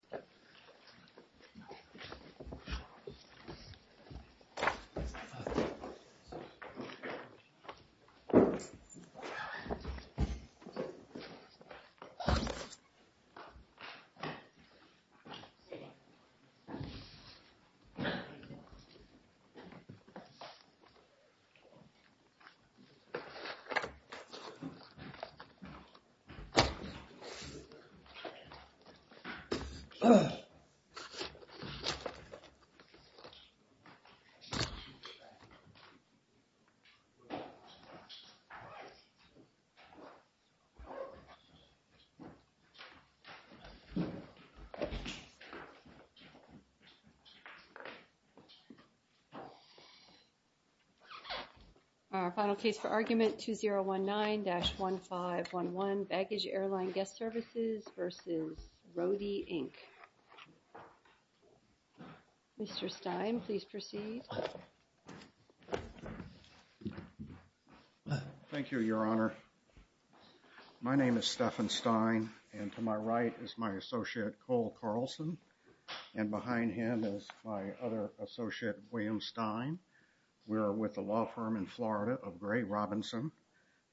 Welcome aboard on a ride on the New York City Line! Thank you for watching and don't forget to Like and Subscribe! Bye Bye! Our final case for argument, 2019-1511 Baggage Airline Guest Services v. Roadie, Inc. Mr. Stein, please proceed. Thank you, Your Honor. My name is Stephen Stein, and to my right is my associate, Cole Carlson, and behind him is my other associate, William Stein. We're with the law firm in Florida of Gray Robinson,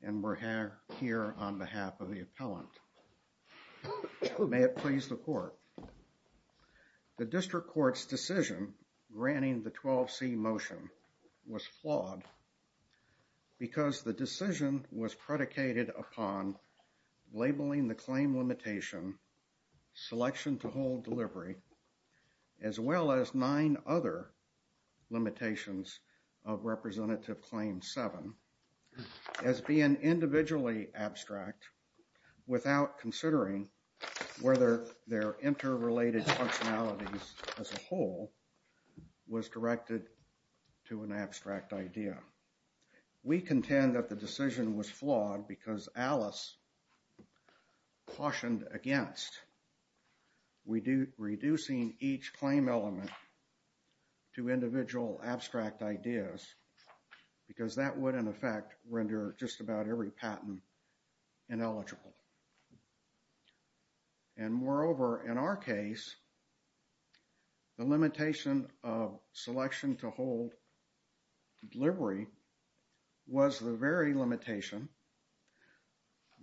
and we're here on behalf of the appellant. May it please the Court. The District Court's decision granting the 12C motion was flawed because the decision was predicated upon labeling the claim limitation, Selection to Hold Delivery, as well as nine other limitations of Representative Claim 7 as being individually abstract without considering whether their interrelated functionalities as a whole was directed to an abstract idea. We contend that the decision was flawed because Alice cautioned against reducing each claim element to individual abstract ideas because that would, in effect, render just about every patent ineligible. And moreover, in our case, the limitation of Selection to Hold Delivery was the very limitation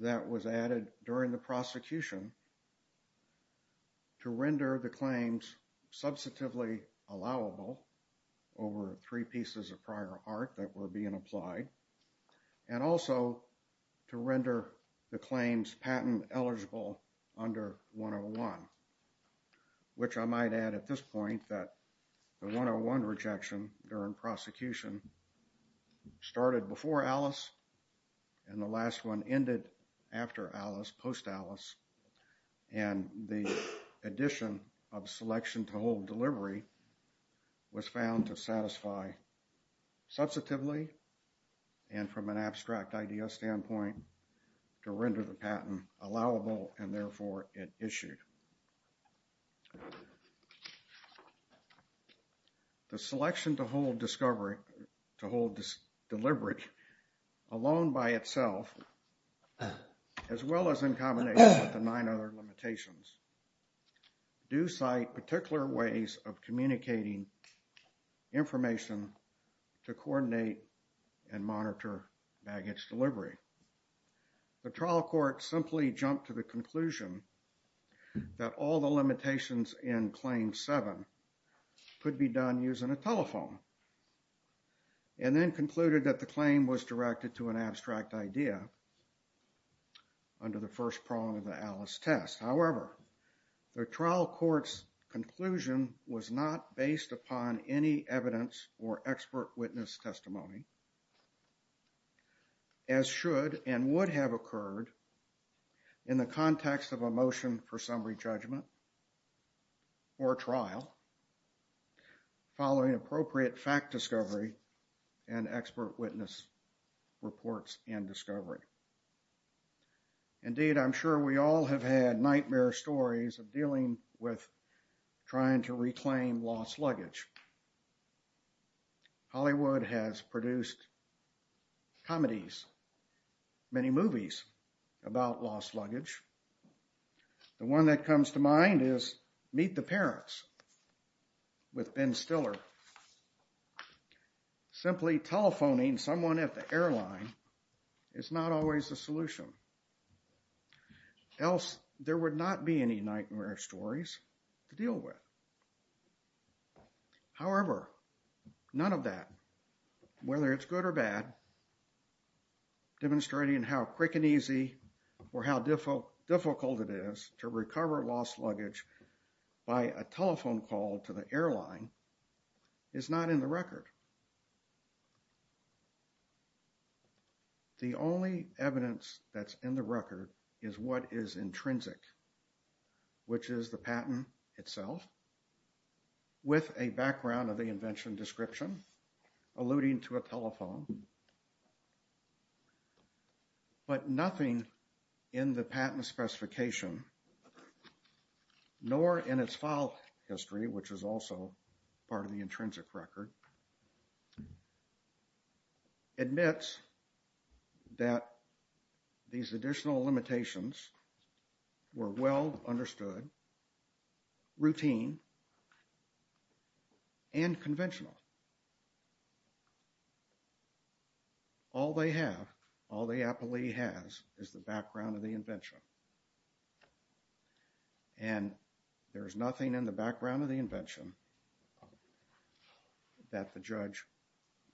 that was added during the prosecution to render the claims substantively allowable over three pieces of prior art that were being applied, and also to render the claims patent eligible under 101, which I might add at this point that the 101 rejection during prosecution started before Alice and the last one ended after Alice, post-Alice, and the addition of Selection to Hold Delivery was found to satisfy substantively and from an abstract idea standpoint to render the patent allowable and therefore it issued. The Selection to Hold Delivery alone by itself, as well as in combination with the nine other limitations, do cite particular ways of communicating information to coordinate and monitor baggage delivery. The trial court simply jumped to the conclusion that all the limitations in Claim 7 could be done using a telephone and then concluded that the claim was directed to an abstract idea under the first prong of the Alice test. However, the trial court's conclusion was not based upon any evidence or expert witness testimony. As should and would have occurred in the context of a motion for summary judgment or trial following appropriate fact discovery and expert witness reports and discovery. Indeed, I'm sure we all have had nightmare stories of dealing with trying to reclaim lost luggage. Hollywood has produced comedies, many movies about lost luggage. The one that comes to mind is Meet the Parents with Ben Stiller. Simply telephoning someone at the airline is not always a solution. Else there would not be any nightmare stories to deal with. However, none of that, whether it's good or bad, demonstrating how quick and easy or how difficult it is to recover lost luggage by a telephone call to the airline, is not in the record. The only evidence that's in the record is what is intrinsic, which is the patent itself with a background of the invention description alluding to a telephone. But nothing in the patent specification, nor in its file history, which is also part of the intrinsic record, admits that these additional limitations were well understood, routine, and conventional. All they have, all the appellee has, is the background of the invention. And there is nothing in the background of the invention that the judge,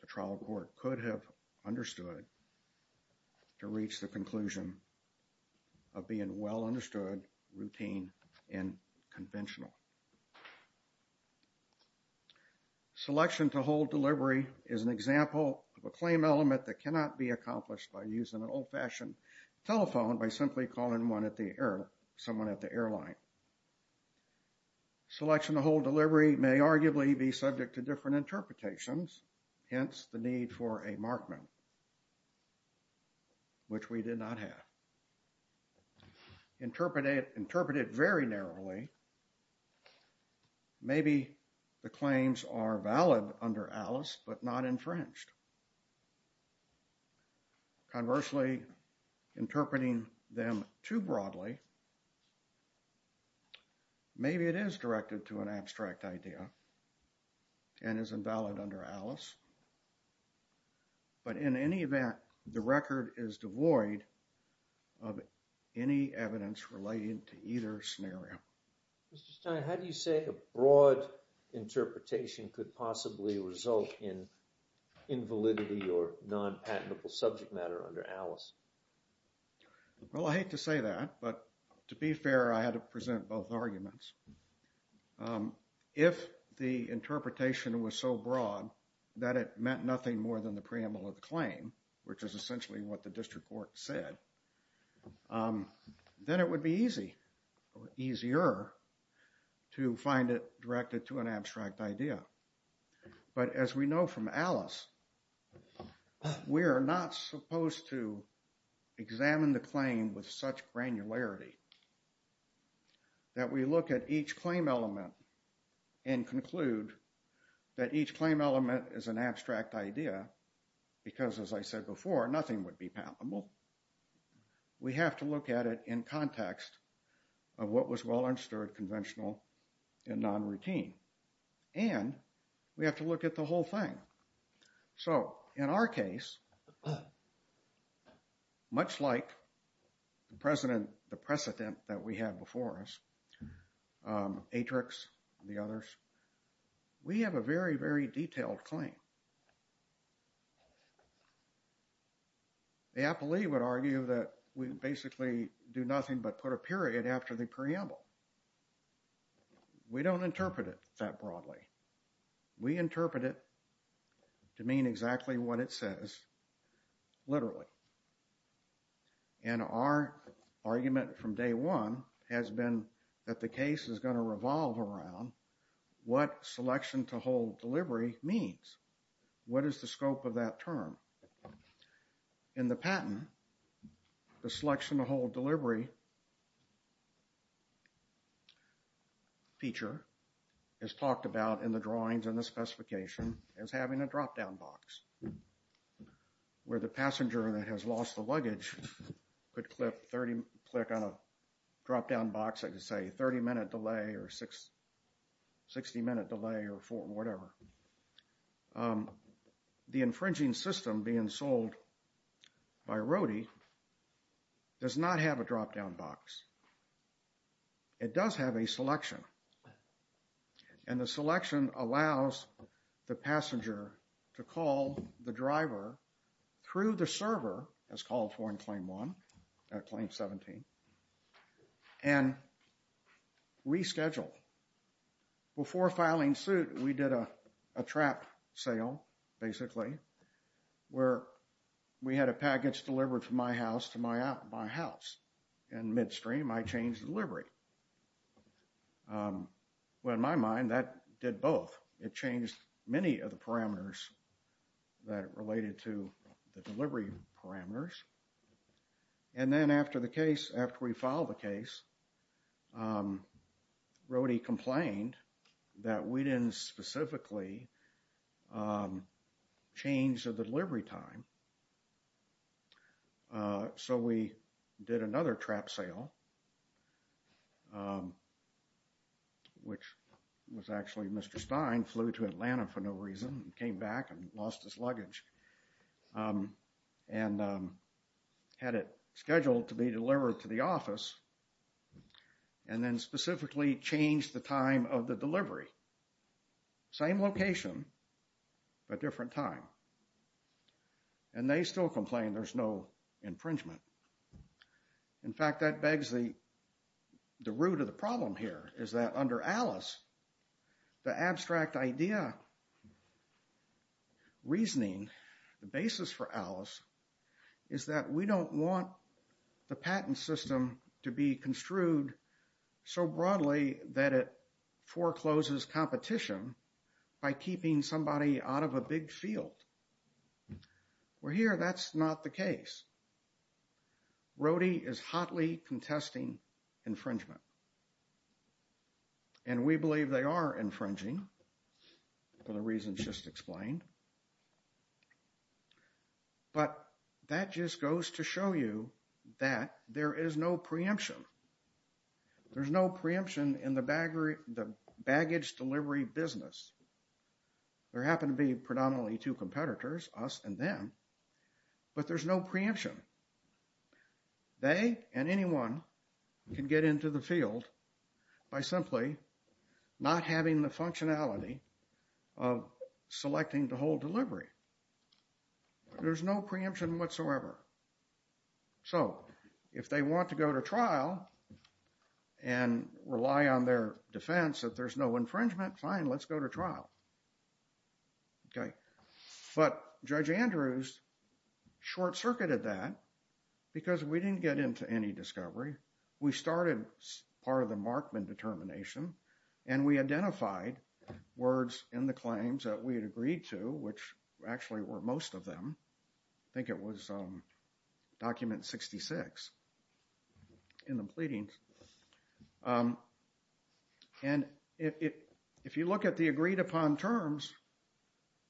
the trial court, could have understood to reach the conclusion of being well understood, routine, and conventional. Selection to hold delivery is an example of a claim element that cannot be accomplished by using an old-fashioned telephone by simply calling someone at the airline. Selection to hold delivery may arguably be subject to different interpretations, hence the need for a markman, which we did not have. Interpreted very narrowly, maybe the claims are valid under Alice, but not infringed. Conversely, interpreting them too broadly, maybe it is directed to an abstract idea and is invalid under Alice. But in any event, the record is devoid of any evidence relating to either scenario. Mr. Stein, how do you say a broad interpretation could possibly result in invalidity or non-patentable subject matter under Alice? Well, I hate to say that, but to be fair, I had to present both arguments. If the interpretation was so broad that it meant nothing more than the preamble of the claim, which is essentially what the district court said, then it would be easy or easier to find it directed to an abstract idea. But as we know from Alice, we are not supposed to examine the claim with such granularity that we look at each claim element and conclude that each claim element is an abstract idea because, as I said before, nothing would be patentable. We have to look at it in context of what was well understood conventional and non-routine. And we have to look at the whole thing. So, in our case, much like the precedent that we have before us, Atrix and the others, we have a very, very detailed claim. The appellee would argue that we basically do nothing but put a period after the preamble. We interpret it to mean exactly what it says, literally. And our argument from day one has been that the case is going to revolve around what selection to hold delivery means. What is the scope of that term? In the patent, the selection to hold delivery feature is talked about in the drawings and the specification as having a drop-down box, where the passenger that has lost the luggage could click on a drop-down box that could say 30-minute delay or 60-minute delay or whatever. The infringing system being sold by Rody does not have a drop-down box. It does have a selection. And the selection allows the passenger to call the driver through the server, as called for in Claim 1, Claim 17, and reschedule. Before filing suit, we did a trap sale, basically, where we had a package delivered from my house to my house. And midstream, I changed the delivery. Well, in my mind, that did both. It changed many of the parameters that related to the delivery parameters. And then after the case, after we filed the case, Rody complained that we didn't specifically change the delivery time. So we did another trap sale, which was actually Mr. Stein flew to Atlanta for no reason, came back and lost his luggage. And had it scheduled to be delivered to the office, and then specifically changed the time of the delivery. Same location, but different time. And they still complain there's no infringement. In fact, that begs the root of the problem here, is that under Alice, the abstract idea, reasoning, the basis for Alice, is that we don't want the patent system to be construed so broadly that it forecloses competition by keeping somebody out of a big field. Well, here, that's not the case. Rody is hotly contesting infringement. And we believe they are infringing for the reasons just explained. But that just goes to show you that there is no preemption. There's no preemption in the baggage delivery business. There happen to be predominantly two competitors, us and them. But there's no preemption. They and anyone can get into the field by simply not having the functionality of selecting the whole delivery. There's no preemption whatsoever. So, if they want to go to trial and rely on their defense that there's no infringement, fine, let's go to trial. Okay. But Judge Andrews short-circuited that because we didn't get into any discovery. We started part of the Markman determination. And we identified words in the claims that we had agreed to, which actually were most of them. I think it was document 66 in the pleadings. And if you look at the agreed-upon terms,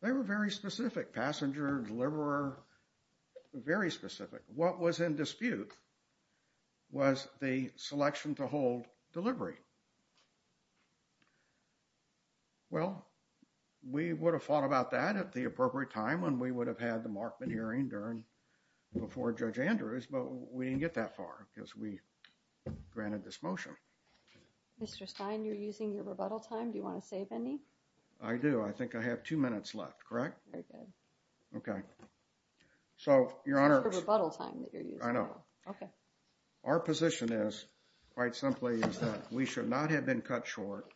they were very specific. Passenger, deliverer, very specific. What was in dispute was the selection to hold delivery. Well, we would have thought about that at the appropriate time when we would have had the Markman hearing before Judge Andrews, but we didn't get that far because we granted this motion. Mr. Stein, you're using your rebuttal time. Do you want to save any? I do. I think I have two minutes left. Correct? Very good. Okay. So, Your Honor. That's the rebuttal time that you're using. I know. Okay. Our position is, quite simply, is that we should not have been cut short.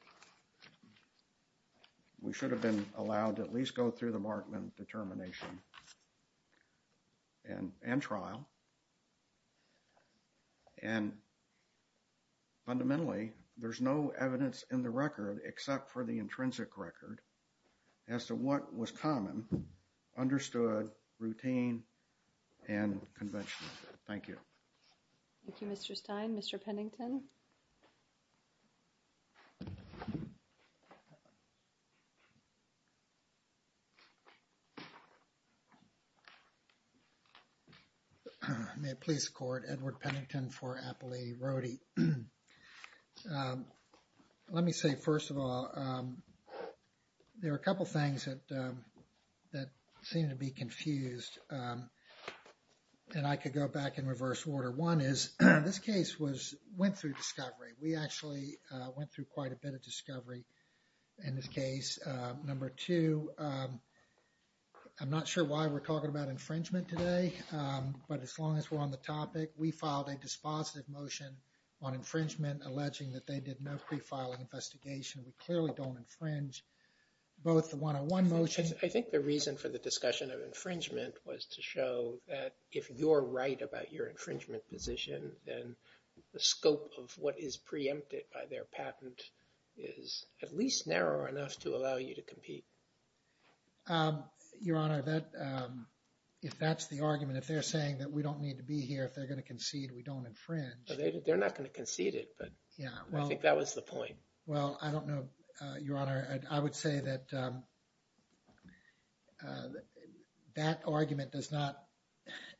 We should have been allowed to at least go through the Markman determination and trial, and fundamentally, there's no evidence in the record except for the intrinsic record as to what was common, understood, routine, and conventional. Thank you. Thank you, Mr. Stein. Mr. Pennington? May it please the Court. Edward Pennington for Appellate Rody. Let me say, first of all, there are a couple things that seem to be confused, and I could go back in reverse order. One is, this case went through discovery. We actually went through quite a bit of discovery in this case. Number two, I'm not sure why we're talking about infringement today, but as long as we're on the topic, we filed a dispositive motion on infringement alleging that they did no pre-filing investigation. We clearly don't infringe both the one-on-one motion. I think the reason for the discussion of infringement was to show that if you're right about your infringement position, then the scope of what is preempted by their patent is at least narrow enough to allow you to compete. Your Honor, if that's the argument, if they're saying that we don't need to be here, if they're going to concede we don't infringe. They're not going to concede it, but I think that was the point. Well, I don't know, Your Honor. I would say that that argument does not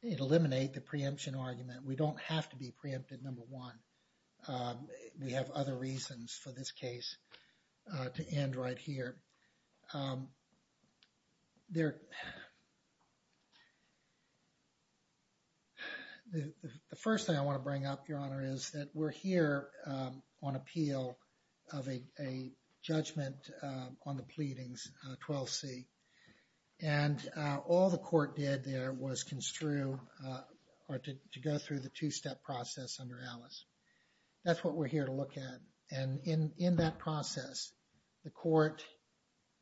eliminate the preemption argument. We don't have to be preempted, number one. We have other reasons for this case to end right here. The first thing I want to bring up, Your Honor, is that we're here on appeal of a judgment on the pleadings, 12C. And all the court did there was construe or to go through the two-step process under Alice. That's what we're here to look at. And in that process, the court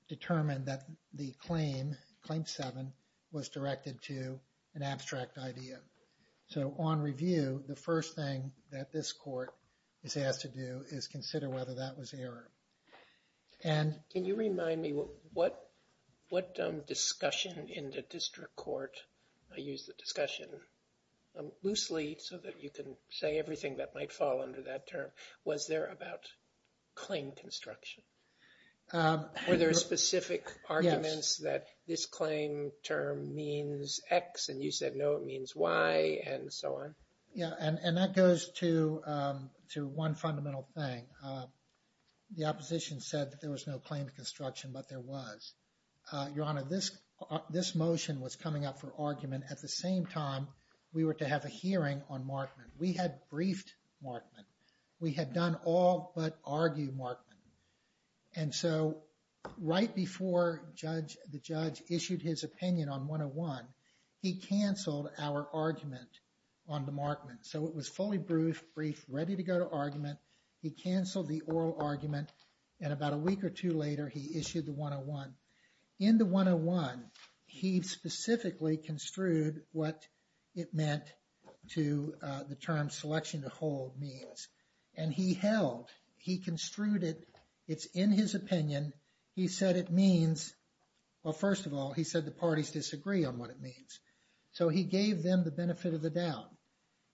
determined that the claim, Claim 7, was directed to an abstract idea. So on review, the first thing that this court is asked to do is consider whether that was error. Can you remind me what discussion in the district court, I use the discussion loosely so that you can say everything that might fall under that term, was there about claim construction? Were there specific arguments that this claim term means X, and you said no, it means Y, and so on? Yeah, and that goes to one fundamental thing. The opposition said that there was no claim construction, but there was. Your Honor, this motion was coming up for argument. We had briefed Markman. We had done all but argue Markman. And so right before the judge issued his opinion on 101, he canceled our argument on the Markman. So it was fully briefed, ready to go to argument. He canceled the oral argument, and about a week or two later, he issued the 101. In the 101, he specifically construed what it meant to the term selection to hold means. And he held, he construed it. It's in his opinion. He said it means, well, first of all, he said the parties disagree on what it means. So he gave them the benefit of the doubt.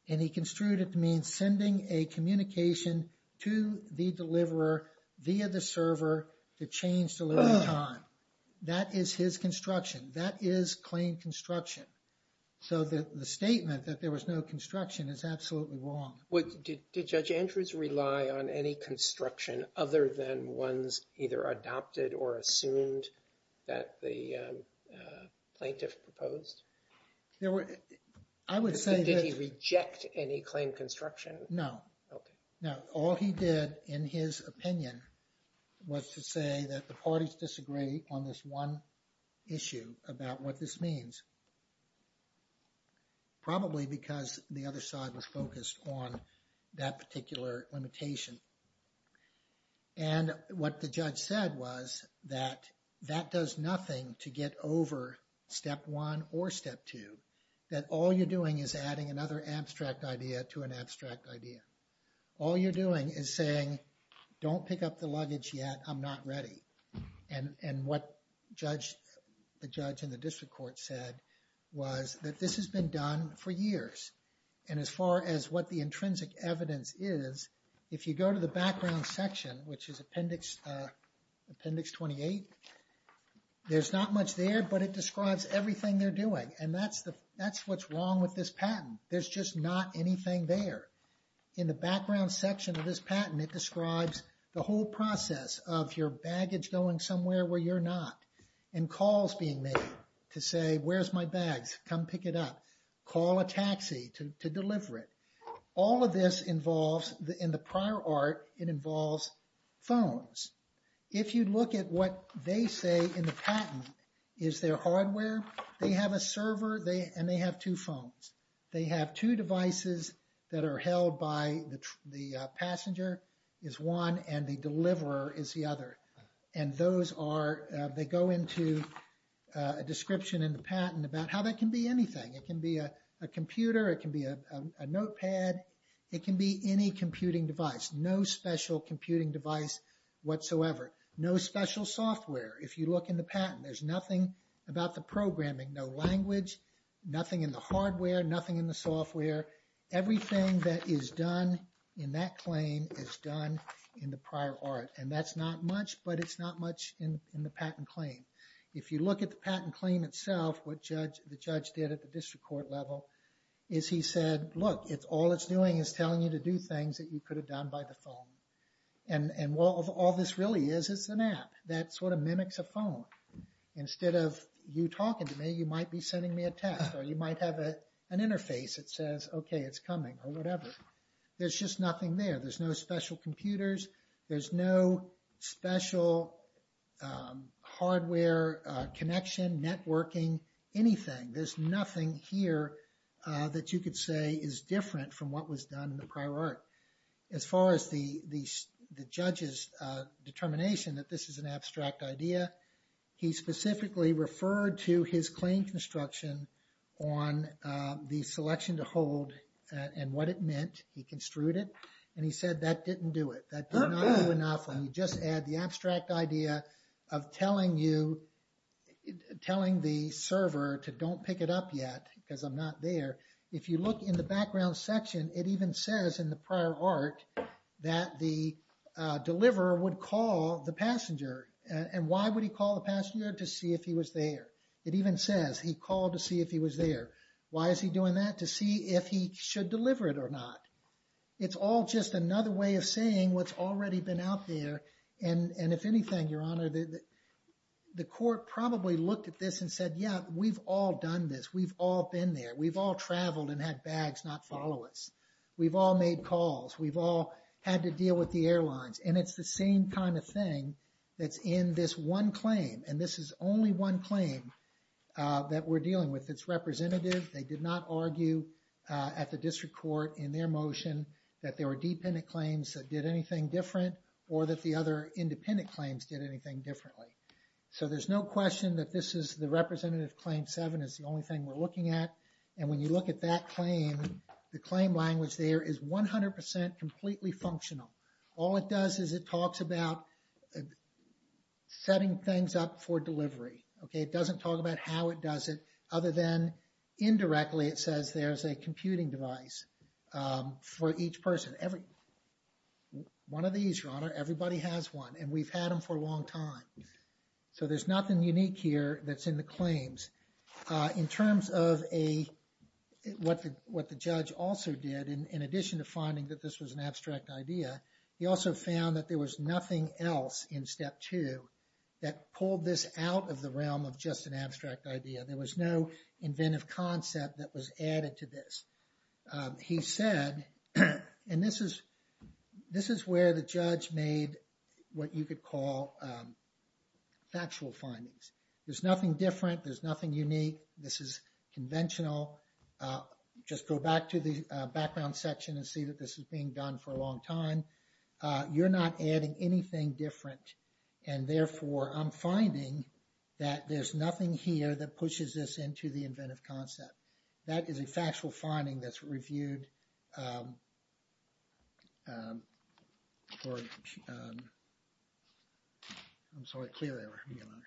And he construed it to mean sending a communication to the deliverer via the server to change delivery time. That is his construction. That is claim construction. So the statement that there was no construction is absolutely wrong. Did Judge Andrews rely on any construction other than ones either adopted or assumed that the plaintiff proposed? I would say that... Did he reject any claim construction? No. Okay. Now, all he did in his opinion was to say that the parties disagree on this one issue about what this means. Probably because the other side was focused on that particular limitation. And what the judge said was that that does nothing to get over step one or step two. That all you're doing is adding another abstract idea to an abstract idea. All you're doing is saying, don't pick up the luggage yet. I'm not ready. And what the judge in the district court said was that this has been done for years. And as far as what the intrinsic evidence is, if you go to the background section, which is appendix 28, there's not much there, but it describes everything they're doing. And that's what's wrong with this patent. There's just not anything there. In the background section of this patent, it describes the whole process of your baggage going somewhere where you're not. And calls being made to say, where's my bags? Come pick it up. Call a taxi to deliver it. All of this involves, in the prior art, it involves phones. If you look at what they say in the patent, is there hardware? They have a server, and they have two phones. They have two devices that are held by the passenger is one, and the deliverer is the other. And those are, they go into a description in the patent about how that can be anything. It can be a computer. It can be a notepad. It can be any computing device. No special computing device whatsoever. No special software. If you look in the patent, there's nothing about the programming. No language, nothing in the hardware, nothing in the software. Everything that is done in that claim is done in the prior art. And that's not much, but it's not much in the patent claim. If you look at the patent claim itself, what the judge did at the district court level, is he said, look, all it's doing is telling you to do things that you could have done by the phone. And all this really is, is an app. That sort of mimics a phone. Instead of you talking to me, you might be sending me a text, or you might have an interface that says, okay, it's coming, or whatever. There's just nothing there. There's no special computers. There's no special hardware connection, networking, anything. There's nothing here that you could say is different from what was done in the prior art. As far as the judge's determination that this is an abstract idea, he specifically referred to his claim construction on the selection to hold and what it meant. He construed it, and he said that didn't do it. That did not do enough. When you just add the abstract idea of telling you, telling the server to don't pick it up yet, because I'm not there. If you look in the background section, it even says in the prior art that the deliverer would call the passenger. And why would he call the passenger? To see if he was there. It even says he called to see if he was there. Why is he doing that? To see if he should deliver it or not. It's all just another way of saying what's already been out there. And if anything, Your Honor, the court probably looked at this and said, yeah, we've all done this. We've all been there. We've all traveled and had bags not follow us. We've all made calls. We've all had to deal with the airlines. And it's the same kind of thing that's in this one claim. And this is only one claim that we're dealing with. It's representative. They did not argue at the district court in their motion that there were dependent claims that did anything different or that the other independent claims did anything differently. So there's no question that this is the representative claim. Seven is the only thing we're looking at. And when you look at that claim, the claim language there is 100% completely functional. All it does is it talks about setting things up for delivery. Okay. It doesn't talk about how it does it other than indirectly it says there's a computing device for each person. Every one of these, Your Honor, everybody has one. And we've had them for a long time. So there's nothing unique here that's in the claims. In terms of what the judge also did, in addition to finding that this was an abstract idea, he also found that there was nothing else in step two that pulled this out of the realm of just an abstract idea. There was no inventive concept that was added to this. He said, and this is where the judge made what you could call factual findings. There's nothing different. There's nothing unique. This is conventional. Just go back to the background section and see that this is being done for a long time. You're not adding anything different. And therefore, I'm finding that there's nothing here that pushes this into the inventive concept. That is a factual finding that's reviewed for, I'm sorry, clear error, Your Honor,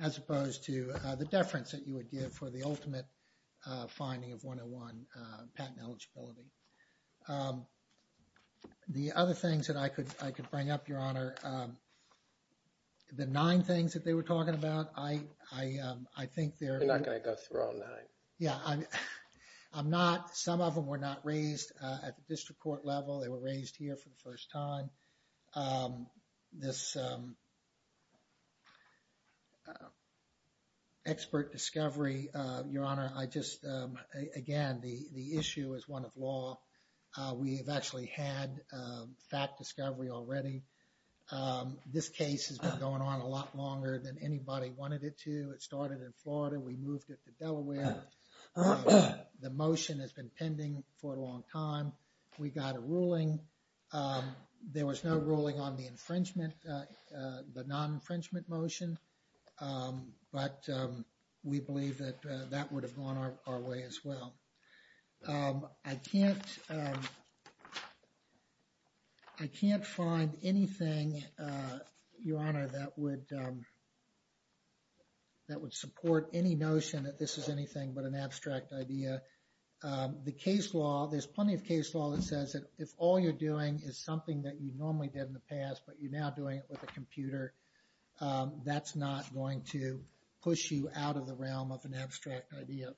as opposed to the deference that you would give for the ultimate finding of one-on-one patent eligibility. The other things that I could bring up, Your Honor, the nine things that they were talking about, I think they're... Yeah, I'm not, some of them were not raised at the district court level. They were raised here for the first time. This expert discovery, Your Honor, I just, again, the issue is one of law. We have actually had fact discovery already. This case has been going on a lot longer than anybody wanted it to. It started in Florida. We moved it to Delaware. The motion has been pending for a long time. We got a ruling. There was no ruling on the infringement, the non-infringement motion. But we believe that that would have gone our way as well. I can't find anything, Your Honor, that would support any notion that this is anything but an abstract idea. The case law, there's plenty of case law that says that if all you're doing is something that you normally did in the past, but you're now doing it with a computer, that's not going to push you out of the realm of an abstract idea.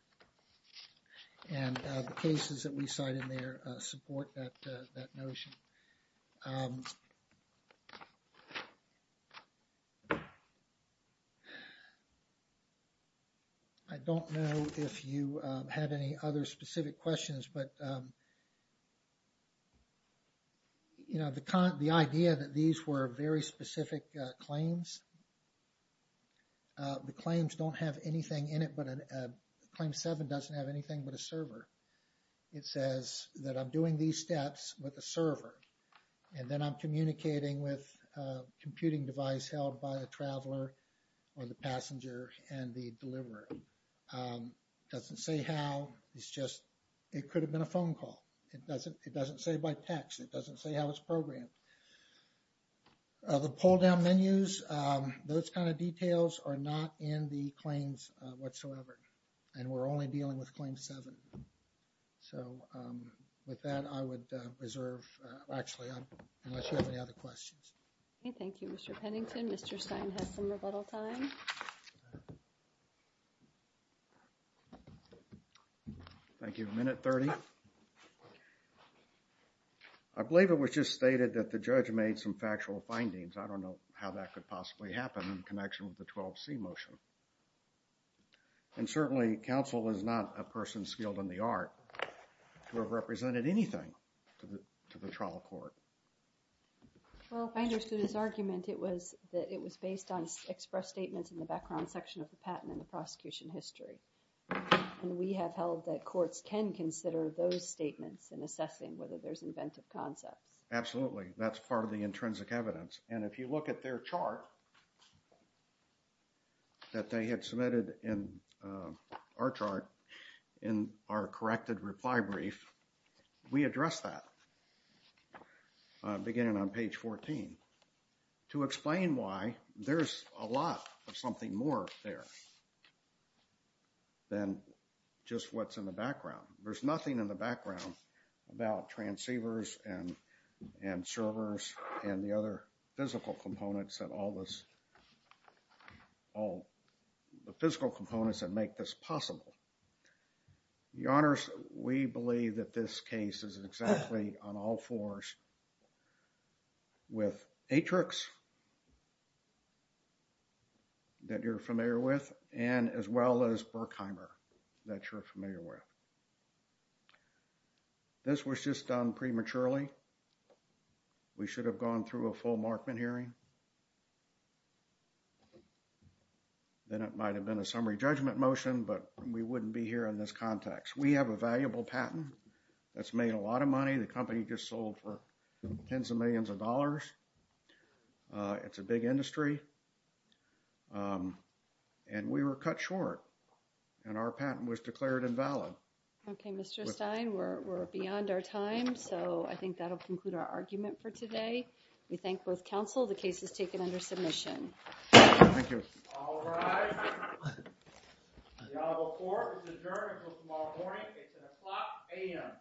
And the cases that we cite in there support that notion. I don't know if you have any other specific questions, but, you know, the idea that these were very specific claims, the claims don't have anything in it, but Claim 7 doesn't have anything but a server. It says that I'm doing these steps with a server, and then I'm communicating with a computing device held by a traveler or the passenger and the deliverer. It doesn't say how. It's just, it could have been a phone call. It doesn't say by text. It doesn't say how it's programmed. The pull-down menus, those kind of details are not in the claims whatsoever, and we're only dealing with Claim 7. So, with that, I would reserve, actually, unless you have any other questions. Okay, thank you, Mr. Pennington. Mr. Stein has some rebuttal time. Thank you. Minute 30. I believe it was just stated that the judge made some factual findings. I don't know how that could possibly happen in connection with the 12C motion, and certainly counsel is not a person skilled in the art to have represented anything to the trial court. Well, I understood his argument. It was that it was based on express statements in the background section of the patent in the prosecution history, and we have held that courts can consider those statements in assessing whether there's inventive concepts. Absolutely. That's part of the intrinsic evidence, and if you look at their chart that they had submitted in our chart in our corrected reply brief, we address that, beginning on page 14, to explain why there's a lot of something more there than just what's in the background. There's nothing in the background about transceivers and servers and the other physical components that make this possible. Your Honors, we believe that this case is exactly on all fours with Atrix that you're familiar with, and as well as Berkheimer that you're familiar with. This was just done prematurely. We should have gone through a full Markman hearing. Then it might have been a summary judgment motion, but we wouldn't be here in this context. We have a valuable patent that's made a lot of money. The company just sold for tens of millions of dollars. It's a big industry, and we were cut short, and our patent was declared invalid. Okay, Mr. Stein, we're beyond our time, so I think that'll conclude our argument for today. We thank both counsel. The case is taken under submission. Thank you. All rise. The honorable court is adjourned until tomorrow morning. It's an o'clock a.m.